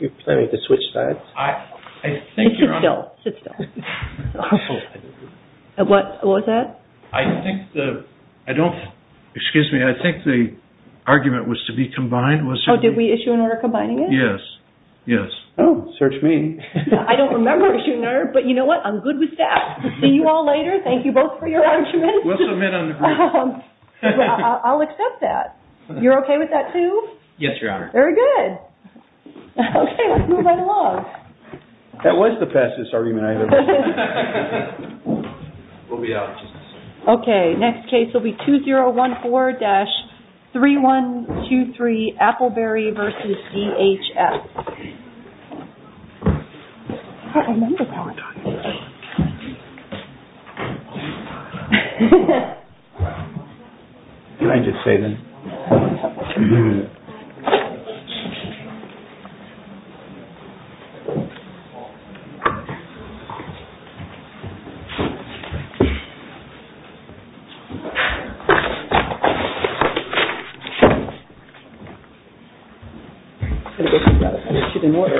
You're planning to switch sides? Sit still. What was that? I think the, I don't, excuse me, I think the argument was to be combined. Oh, did we issue an order combining it? Yes. Yes. Oh, search me. I don't remember issuing an order, but you know what, I'm good with that. See you all later. Thank you both for your arguments. I'll accept that. You're okay with that too? Yes, Your Honor. Very good. Okay, let's move right along. That was the fastest argument I've ever heard. We'll be out. Okay, next case will be 2014-3123 Appleberry v. DHS. And I just say that. She didn't work.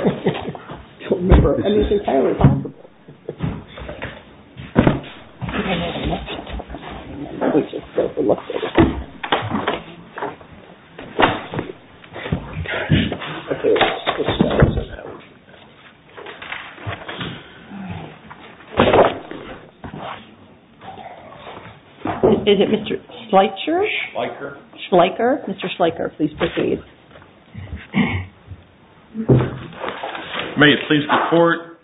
Is it Mr. Schleicher? Schleicher. Mr. Schleicher, please proceed. May it please the court,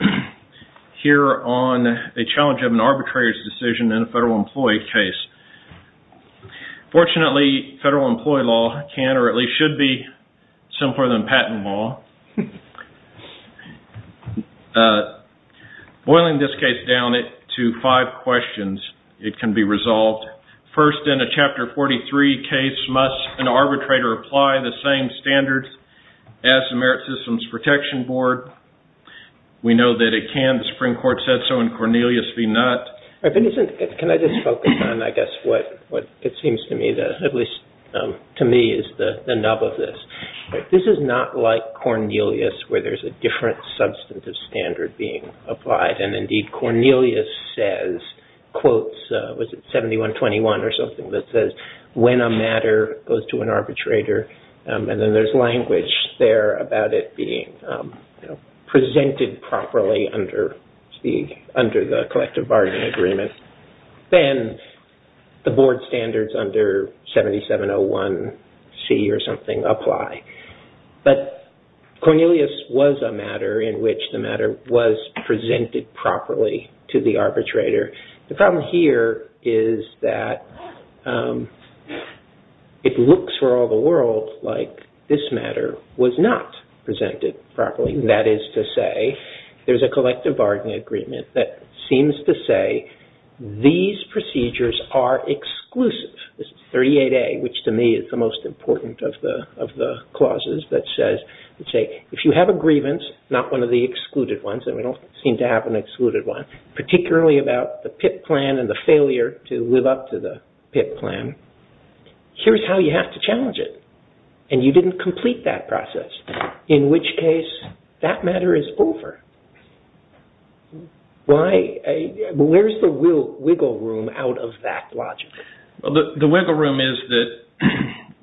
here on a challenge of an arbitrator's decision in a federal employee case. Fortunately, federal employee law can or at least should be simpler than patent law. Boiling this case down to five questions, it can be resolved. First, in a Chapter 43 case, must an arbitrator apply the same standards as the Merit Systems Protection Board? We know that it can. The Supreme Court said so in Cornelius v. Nutt. Can I just focus on, I guess, what it seems to me, at least to me, is the nub of this. This is not like Cornelius, where there's a different substantive standard being applied. And indeed, Cornelius says, quotes, was it 7121 or something that says, when a matter goes to an arbitrator, and then there's language there about it being presented properly under the collective bargaining agreement, then the board standards under 7701C or something apply. But Cornelius was a matter in which the matter was presented properly to the arbitrator. The problem here is that it looks for all the world like this matter was not presented properly. That is to say, there's a collective bargaining agreement that seems to say these procedures are exclusive. This is 38A, which to me is the most important of the clauses that says, if you have a grievance, not one of the excluded ones, and we don't seem to have an excluded one, particularly about the PIP plan and the failure to live up to the PIP plan, here's how you have to challenge it. And you didn't complete that process. In which case, that matter is over. Where's the wiggle room out of that logic? The wiggle room is that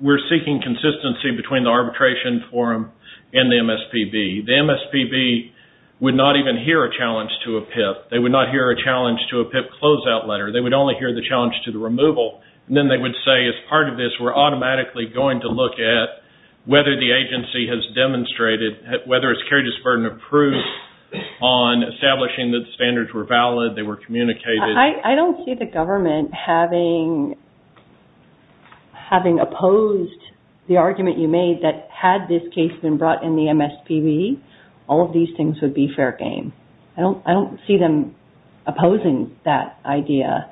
we're seeking consistency between the arbitration forum and the MSPB. The MSPB would not even hear a challenge to a PIP. They would not hear a challenge to a PIP closeout letter. They would only hear the challenge to the removal. Then they would say, as part of this, we're automatically going to look at whether the agency has demonstrated, whether it's carried its burden of proof on establishing that the standards were valid, they were communicated. I don't see the government having opposed the argument you made that had this case been brought in the MSPB, all of these things would be fair game. I don't see them opposing that idea.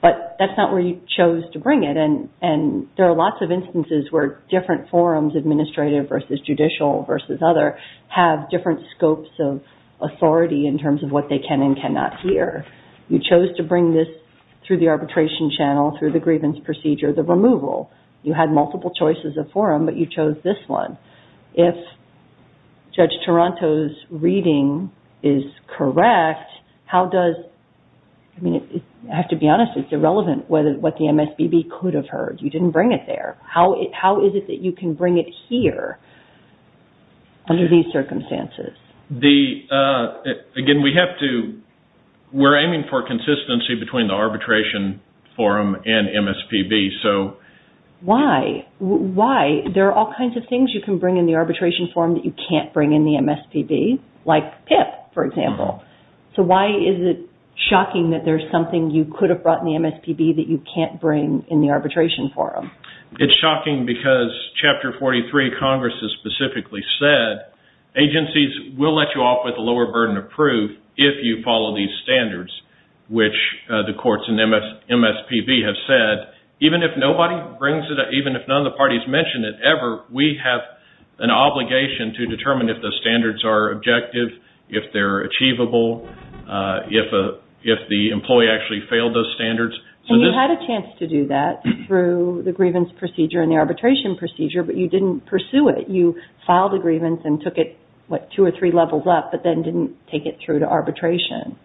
But that's not where you chose to bring it. And there are lots of instances where different forums, administrative versus judicial versus other, have different scopes of authority in terms of what they can and cannot hear. You chose to bring this through the arbitration channel, through the grievance procedure, the removal. You had multiple choices of forum, but you chose this one. If Judge Toronto's reading is correct, how does... I mean, I have to be honest, it's irrelevant what the MSPB could have heard. You didn't bring it there. How is it that you can bring it here under these circumstances? Again, we have to... We're aiming for consistency between the arbitration forum and MSPB, so... Why? Why? There are all kinds of things you can bring in the arbitration forum that you can't bring in the MSPB, like PIP, for example. So why is it shocking that there's something you could have brought in the MSPB that you can't bring in the arbitration forum? It's shocking because Chapter 43 of Congress has specifically said, agencies will let you off with a lower burden of proof if you follow these standards, which the courts in MSPB have said, even if nobody brings it up, even if none of the parties mention it ever, we have an obligation to determine if the standards are objective, if they're achievable, if the employee actually failed those standards. And you had a chance to do that through the grievance procedure and the arbitration procedure, but you didn't pursue it. You filed a grievance and took it, what, two or three levels up, but then didn't take it through to arbitration.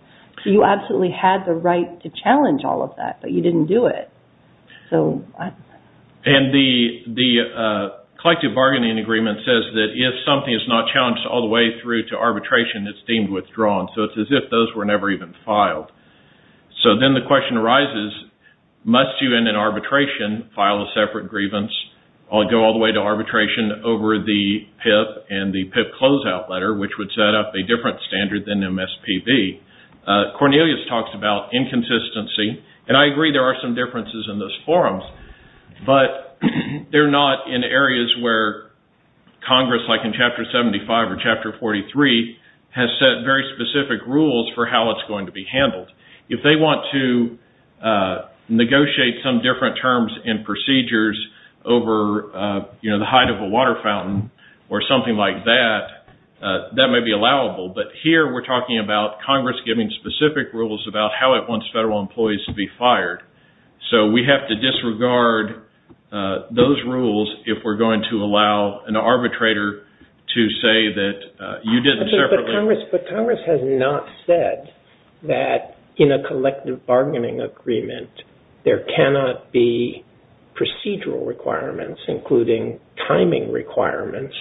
So you absolutely had the right to challenge all of that, but you didn't do it. And the collective bargaining agreement says that if something is not challenged all the way through to arbitration, it's deemed withdrawn. So it's as if those were never even filed. So then the question arises, must you in an arbitration file a separate grievance, or go all the way to arbitration over the PIP and the PIP closeout letter, which would set up a different standard than MSPB? Cornelius talks about inconsistency, and I agree there are some differences in those forums, but they're not in areas where Congress, like in Chapter 75 or Chapter 43, has set very specific rules for how it's going to be handled. If they want to negotiate some different terms and procedures over, you know, the height of a water fountain or something like that, that may be allowable. But here we're talking about Congress giving specific rules about how it wants federal employees to be fired. So we have to disregard those rules if we're going to allow an arbitrator to say that you didn't separately. But Congress has not said that in a collective bargaining agreement, there cannot be procedural requirements, including timing requirements,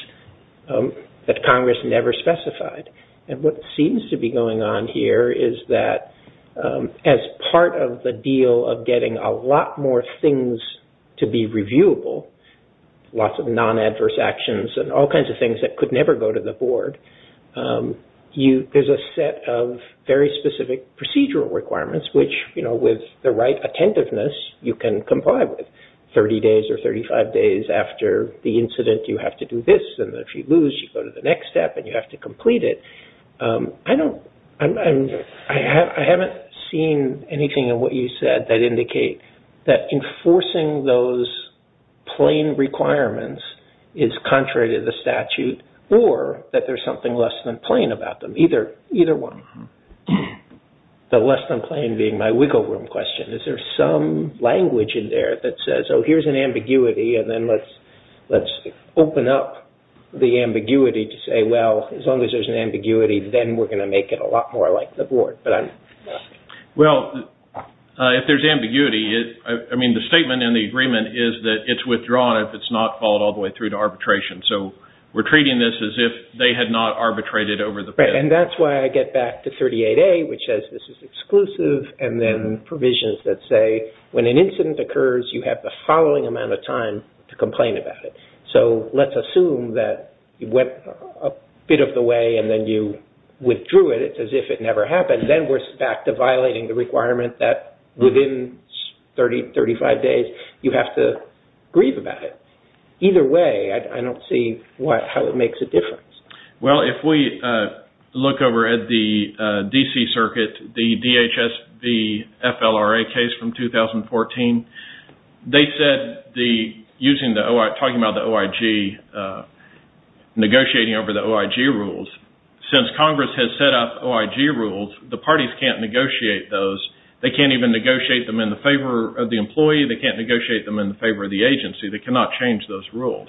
that Congress never specified. And what seems to be going on here is that as part of the deal of getting a lot more things to be reviewable, lots of non-adverse actions and all kinds of things that could never go to the board, there's a set of very specific procedural requirements, which, you know, with the right attentiveness, you can comply with. 30 days or 35 days after the incident, you have to do this, and if you lose, you go to the next step and you have to complete it. I haven't seen anything in what you said that indicate that enforcing those plain requirements is contrary to the statute or that there's something less than plain about them. Either one. The less than plain being my wiggle room question. Is there some language in there that says, oh, here's an ambiguity, and then let's open up the ambiguity to say, well, as long as there's an ambiguity, then we're going to make it a lot more like the board. Well, if there's ambiguity, I mean, the statement in the agreement is that it's withdrawn if it's not followed all the way through to arbitration. So, we're treating this as if they had not arbitrated over the period. And that's why I get back to 38A, which says this is exclusive, and then provisions that say when an incident occurs, you have the following amount of time to complain about it. So, let's assume that it went a bit of the way and then you withdrew it. It's as if it never happened. And then we're back to violating the requirement that within 30, 35 days, you have to grieve about it. Either way, I don't see how it makes a difference. Well, if we look over at the D.C. Circuit, the DHSB FLRA case from 2014, they said using the OIG, talking about the OIG, negotiating over the OIG rules. Since Congress has set up OIG rules, the parties can't negotiate those. They can't even negotiate them in the favor of the employee. They can't negotiate them in the favor of the agency. They cannot change those rules.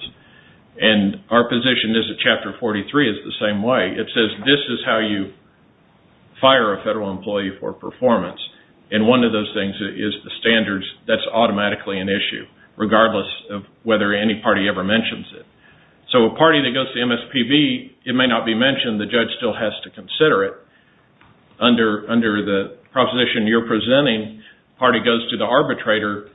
And our position is that Chapter 43 is the same way. It says this is how you fire a federal employee for performance. And one of those things is the standards. That's automatically an issue, regardless of whether any party ever mentions it. So a party that goes to MSPB, it may not be mentioned. The judge still has to consider it. Under the proposition you're presenting, the party goes to the arbitrator.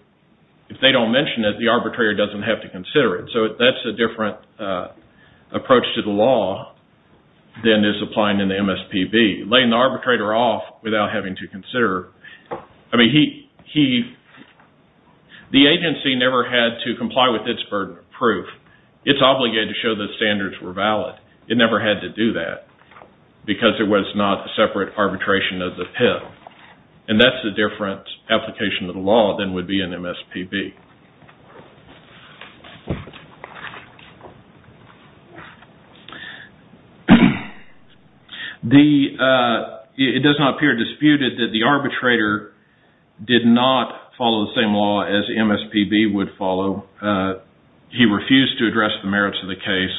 If they don't mention it, the arbitrator doesn't have to consider it. So that's a different approach to the law than is applied in the MSPB. Laying the arbitrator off without having to consider. I mean, the agency never had to comply with its burden of proof. It's obligated to show that the standards were valid. It never had to do that because it was not a separate arbitration as a PIV. And that's a different application of the law than would be in MSPB. It does not appear disputed that the arbitrator did not follow the same law as MSPB would follow. He refused to address the merits of the case,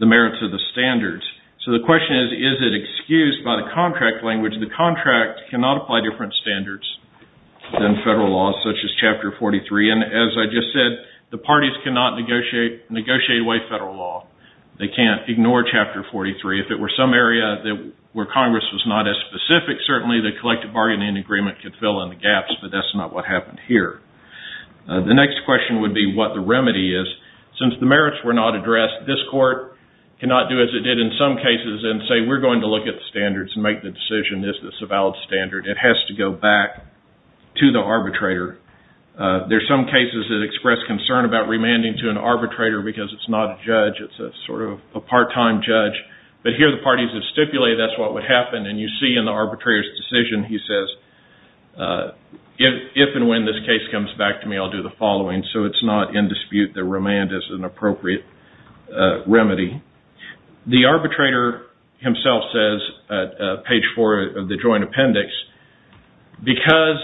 the merits of the standards. So the question is, is it excused by the contract language? The contract cannot apply different standards than federal law, such as Chapter 43. And as I just said, the parties cannot negotiate away federal law. They can't ignore Chapter 43. If it were some area where Congress was not as specific, certainly the collective bargaining agreement could fill in the gaps. But that's not what happened here. The next question would be what the remedy is. Since the merits were not addressed, this court cannot do as it did in some cases and say we're going to look at the standards and make the decision. Is this a valid standard? It has to go back to the arbitrator. There are some cases that express concern about remanding to an arbitrator because it's not a judge. It's sort of a part-time judge. But here the parties have stipulated that's what would happen. And you see in the arbitrator's decision he says, if and when this case comes back to me, I'll do the following. So it's not in dispute that remand is an appropriate remedy. The arbitrator himself says at page four of the joint appendix, because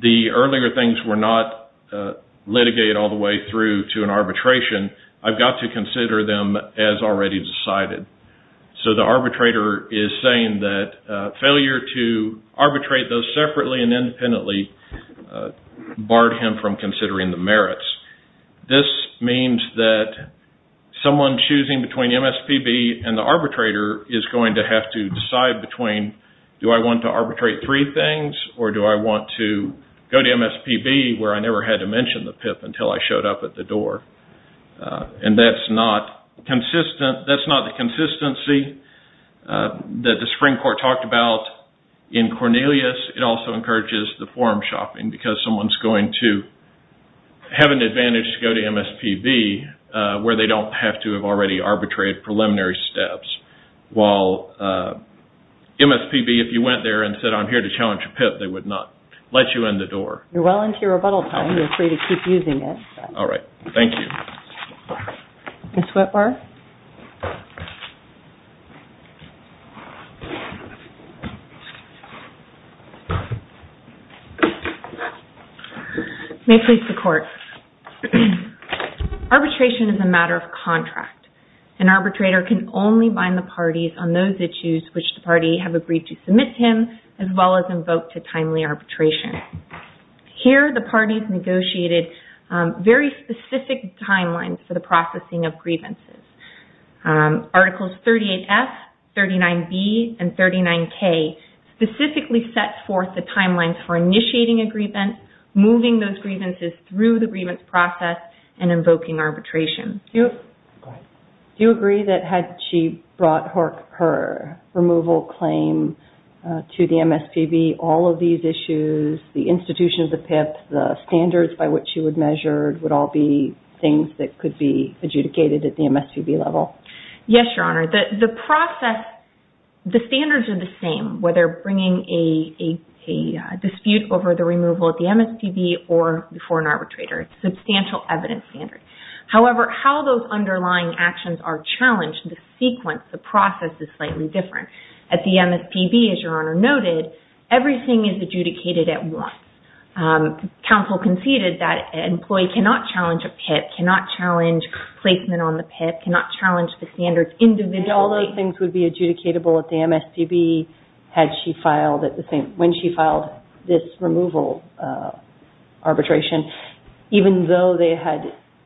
the earlier things were not litigated all the way through to an arbitration, I've got to consider them as already decided. So the arbitrator is saying that failure to arbitrate those separately and independently barred him from considering the merits. This means that someone choosing between MSPB and the arbitrator is going to have to decide between do I want to arbitrate three things or do I want to go to MSPB where I never had to mention the PIP until I showed up at the door. And that's not the consistency that the Supreme Court talked about in Cornelius. It also encourages the forum shopping because someone's going to have an advantage to go to MSPB where they don't have to have already arbitrated preliminary steps. While MSPB, if you went there and said I'm here to challenge a PIP, they would not let you in the door. You're well into your rebuttal time. You're free to keep using it. All right. Thank you. Ms. Whitbar? May it please the Court. Arbitration is a matter of contract. An arbitrator can only bind the parties on those issues which the party have agreed to submit to him as well as invoke to timely arbitration. Here the parties negotiated very specific timelines for the processing of grievances. Articles 38F, 39B, and 39K specifically set forth the timelines for initiating a grievance, moving those grievances through the grievance process, and invoking arbitration. Do you agree that had she brought her removal claim to the MSPB, all of these issues, the institution of the PIP, the standards by which she would measure, would all be things that could be adjudicated at the MSPB level? Yes, Your Honor. The process, the standards are the same, whether bringing a dispute over the removal at the MSPB or before an arbitrator. It's a substantial evidence standard. However, how those underlying actions are challenged, the sequence, the process is slightly different. At the MSPB, as Your Honor noted, everything is adjudicated at once. Counsel conceded that an employee cannot challenge a PIP, cannot challenge placement on the PIP, cannot challenge the standards individually. All those things would be adjudicatable at the MSPB when she filed this removal arbitration, even though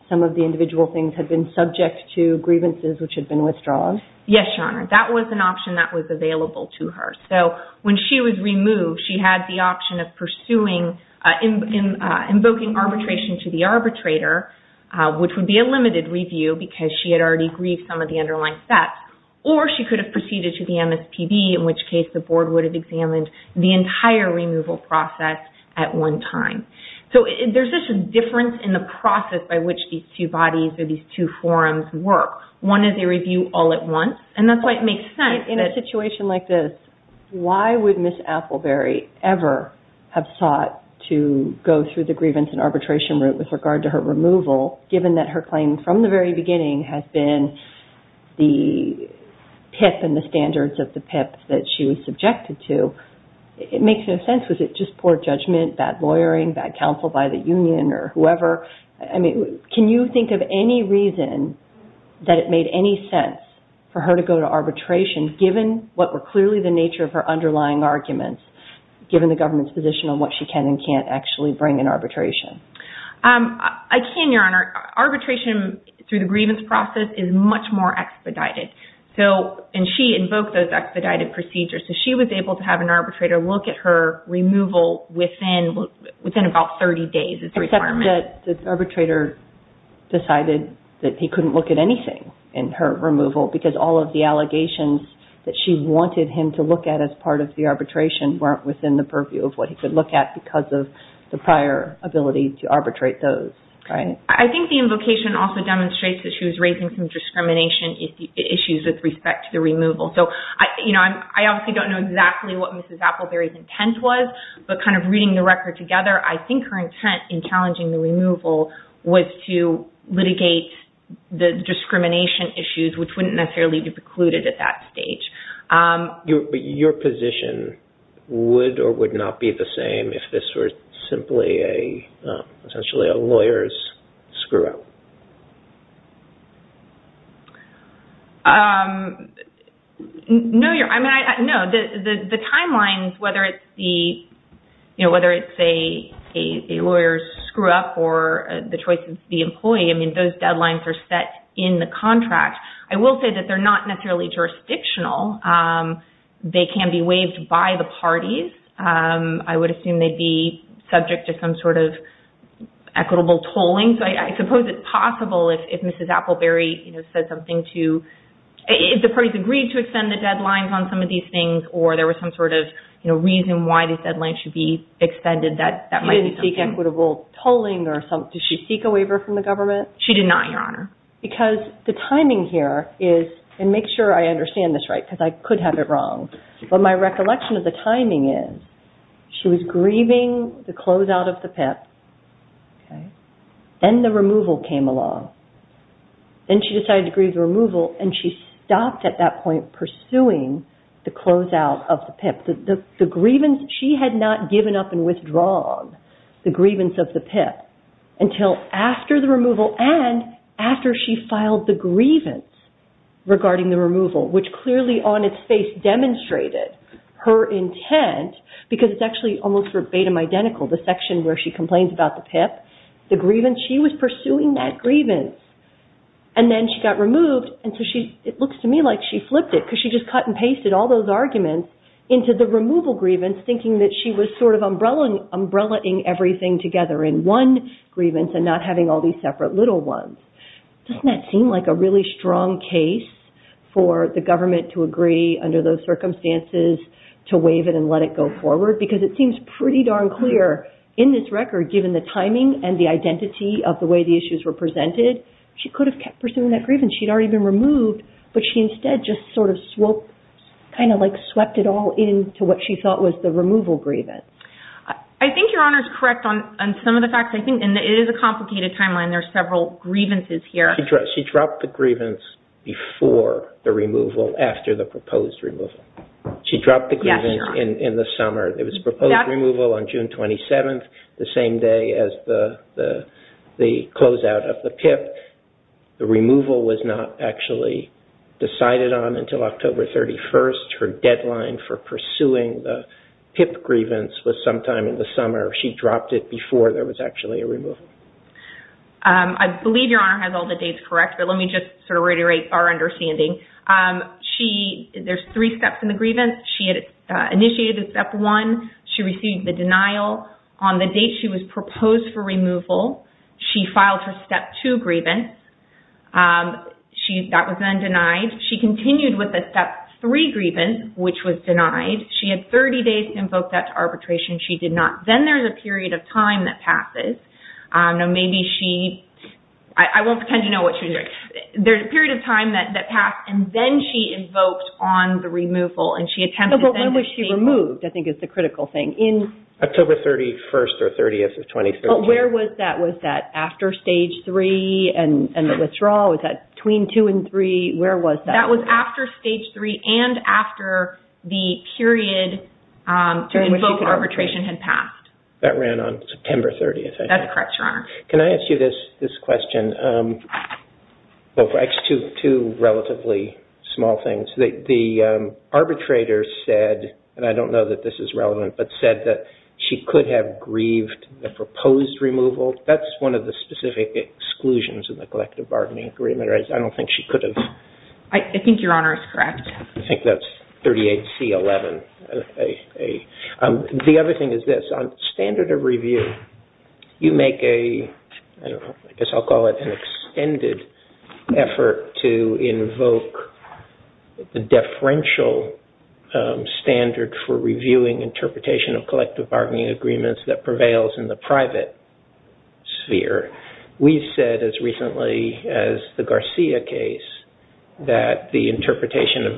some of the individual things had been subject to grievances which had been withdrawn? Yes, Your Honor. That was an option that was available to her. So when she was removed, she had the option of pursuing, invoking arbitration to the arbitrator, which would be a limited review because she had already grieved some of the underlying steps, or she could have proceeded to the MSPB, in which case the board would have examined the entire removal process at one time. So there's this difference in the process by which these two bodies or these two forums work. One is a review all at once, and that's why it makes sense. In a situation like this, why would Ms. Appleberry ever have sought to go through the grievance and arbitration route with regard to her removal, given that her claim from the very beginning has been the PIP and the standards of the PIP that she was subjected to? It makes no sense. Was it just poor judgment, bad lawyering, bad counsel by the union or whoever? Can you think of any reason that it made any sense for her to go to arbitration, given what were clearly the nature of her underlying arguments, given the government's position on what she can and can't actually bring in arbitration? I can, Your Honor. Arbitration through the grievance process is much more expedited, and she invoked those expedited procedures. So she was able to have an arbitrator look at her removal within about 30 days. Except that the arbitrator decided that he couldn't look at anything in her removal because all of the allegations that she wanted him to look at as part of the arbitration weren't within the purview of what he could look at because of the prior ability to arbitrate those. I think the invocation also demonstrates that she was raising some discrimination issues with respect to the removal. I obviously don't know exactly what Ms. Appleberry's intent was, but kind of reading the record together, I think her intent in challenging the removal was to litigate the discrimination issues, which wouldn't necessarily be precluded at that stage. But your position would or would not be the same if this were simply essentially a lawyer's screw-up? No, Your Honor. No. The timelines, whether it's a lawyer's screw-up or the choice of the employee, I mean, those deadlines are set in the contract. I will say that they're not necessarily jurisdictional. They can be waived by the parties. I would assume they'd be subject to some sort of equitable tolling. So I suppose it's possible if Mrs. Appleberry said something to if the parties agreed to extend the deadlines on some of these things or there was some sort of reason why these deadlines should be extended, that might be something. She didn't seek equitable tolling or something. Did she seek a waiver from the government? She did not, Your Honor. Because the timing here is, and make sure I understand this right because I could have it wrong, but my recollection of the timing is she was grieving the closeout of the PIP. Then the removal came along. Then she decided to grieve the removal and she stopped at that point pursuing the closeout of the PIP. She had not given up and withdrawn the grievance of the PIP until after the removal and after she filed the grievance regarding the removal, which clearly on its face demonstrated her intent because it's actually almost verbatim identical. The section where she complains about the PIP, the grievance, she was pursuing that grievance. And then she got removed and so it looks to me like she flipped it because she just cut and pasted all those arguments into the removal grievance thinking that she was sort of umbrellaing everything together in one grievance and not having all these separate little ones. Doesn't that seem like a really strong case for the government to agree under those circumstances to waive it and let it go forward? Because it seems pretty darn clear in this record, given the timing and the identity of the way the issues were presented, she could have kept pursuing that grievance. She had already been removed, but she instead just sort of swept it all into what she thought was the removal grievance. I think Your Honor is correct on some of the facts. It is a complicated timeline. There are several grievances here. She dropped the grievance before the removal after the proposed removal. She dropped the grievance in the summer. It was proposed removal on June 27th, the same day as the closeout of the PIP. The removal was not actually decided on until October 31st. Her deadline for pursuing the PIP grievance was sometime in the summer. She dropped it before there was actually a removal. I believe Your Honor has all the dates correct, but let me just sort of reiterate our understanding. There's three steps in the grievance. She had initiated the step one. She received the denial on the date she was proposed for removal. She filed her step two grievance. That was then denied. She continued with the step three grievance, which was denied. She had 30 days to invoke that arbitration. She did not. Then there's a period of time that passes. I won't pretend to know what she was doing. There's a period of time that passed, and then she invoked on the removal. When was she removed, I think is the critical thing. October 31st or 30th of 2013. Where was that? Was that after stage three and the withdrawal? Was that between two and three? That was after stage three and after the period to invoke arbitration had passed. That ran on September 30th, I think. That's correct, Your Honor. Can I ask you this question? Two relatively small things. The arbitrator said, and I don't know that this is relevant, but said that she could have grieved the proposed removal. That's one of the specific exclusions of the collective bargaining agreement. I don't think she could have. I think Your Honor is correct. I think that's 38C11. The other thing is this. On standard of review, you make a, I guess I'll call it an extended effort to invoke the deferential standard for reviewing interpretation of collective bargaining agreements that prevails in the private sphere. We've said, as recently as the Garcia case, that the interpretation of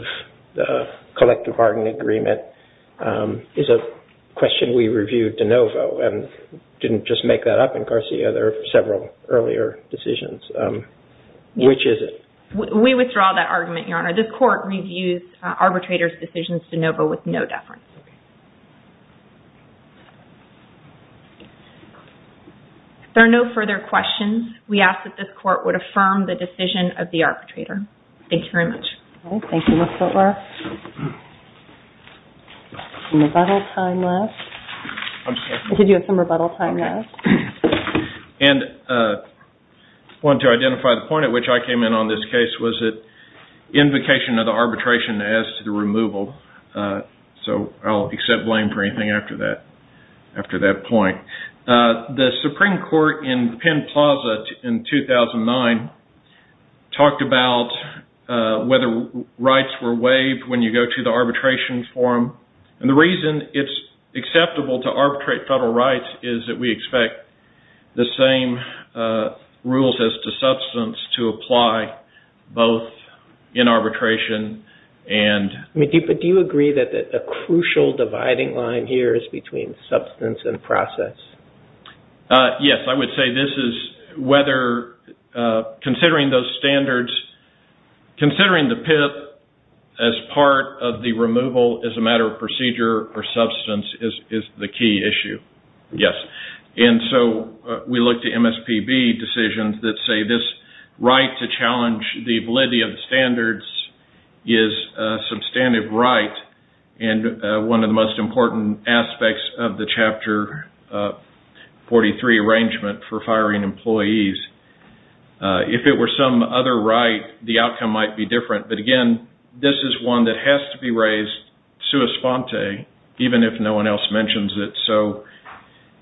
the collective bargaining agreement is a question we reviewed de novo and didn't just make that up in Garcia. There are several earlier decisions. Which is it? We withdraw that argument, Your Honor. The court reviews arbitrator's decisions de novo with no deference. If there are no further questions, we ask that this court would affirm the decision of the arbitrator. Thank you very much. Thank you, Ms. Butler. Any rebuttal time left? I'm sorry? Did you have some rebuttal time left? I wanted to identify the point at which I came in on this case. Was it invocation of the arbitration as to the removal? I'll accept blame for anything after that point. The Supreme Court in Penn Plaza in 2009 talked about whether rights were waived when you go to the arbitration forum. And the reason it's acceptable to arbitrate federal rights is that we expect the same rules as to substance to apply, both in arbitration and... Yes, I would say this is whether considering those standards, considering the PIP as part of the removal as a matter of procedure or substance is the key issue. Yes. And so we look to MSPB decisions that say this right to challenge the validity of the standards is a substantive right and one of the most important aspects of the Chapter 43 arrangement for firing employees. If it were some other right, the outcome might be different. But again, this is one that has to be raised sua sponte, even if no one else mentions it. So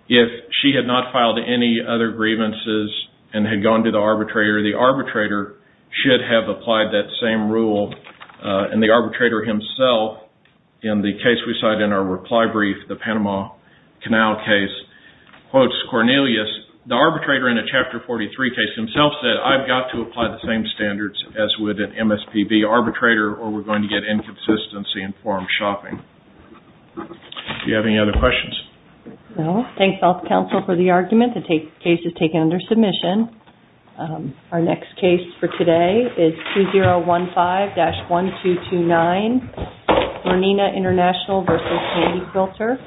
if she had not filed any other grievances and had gone to the arbitrator, the arbitrator should have applied that same rule. And the arbitrator himself, in the case we cite in our reply brief, the Panama Canal case, quotes Cornelius, the arbitrator in a Chapter 43 case himself said, I've got to apply the same standards as with an MSPB arbitrator or we're going to get inconsistency in forum shopping. Do you have any other questions? No. Thanks, Health Council, for the argument. The case is taken under submission. Our next case for today is 2015-1229, Murnina International v. Candy Quilter.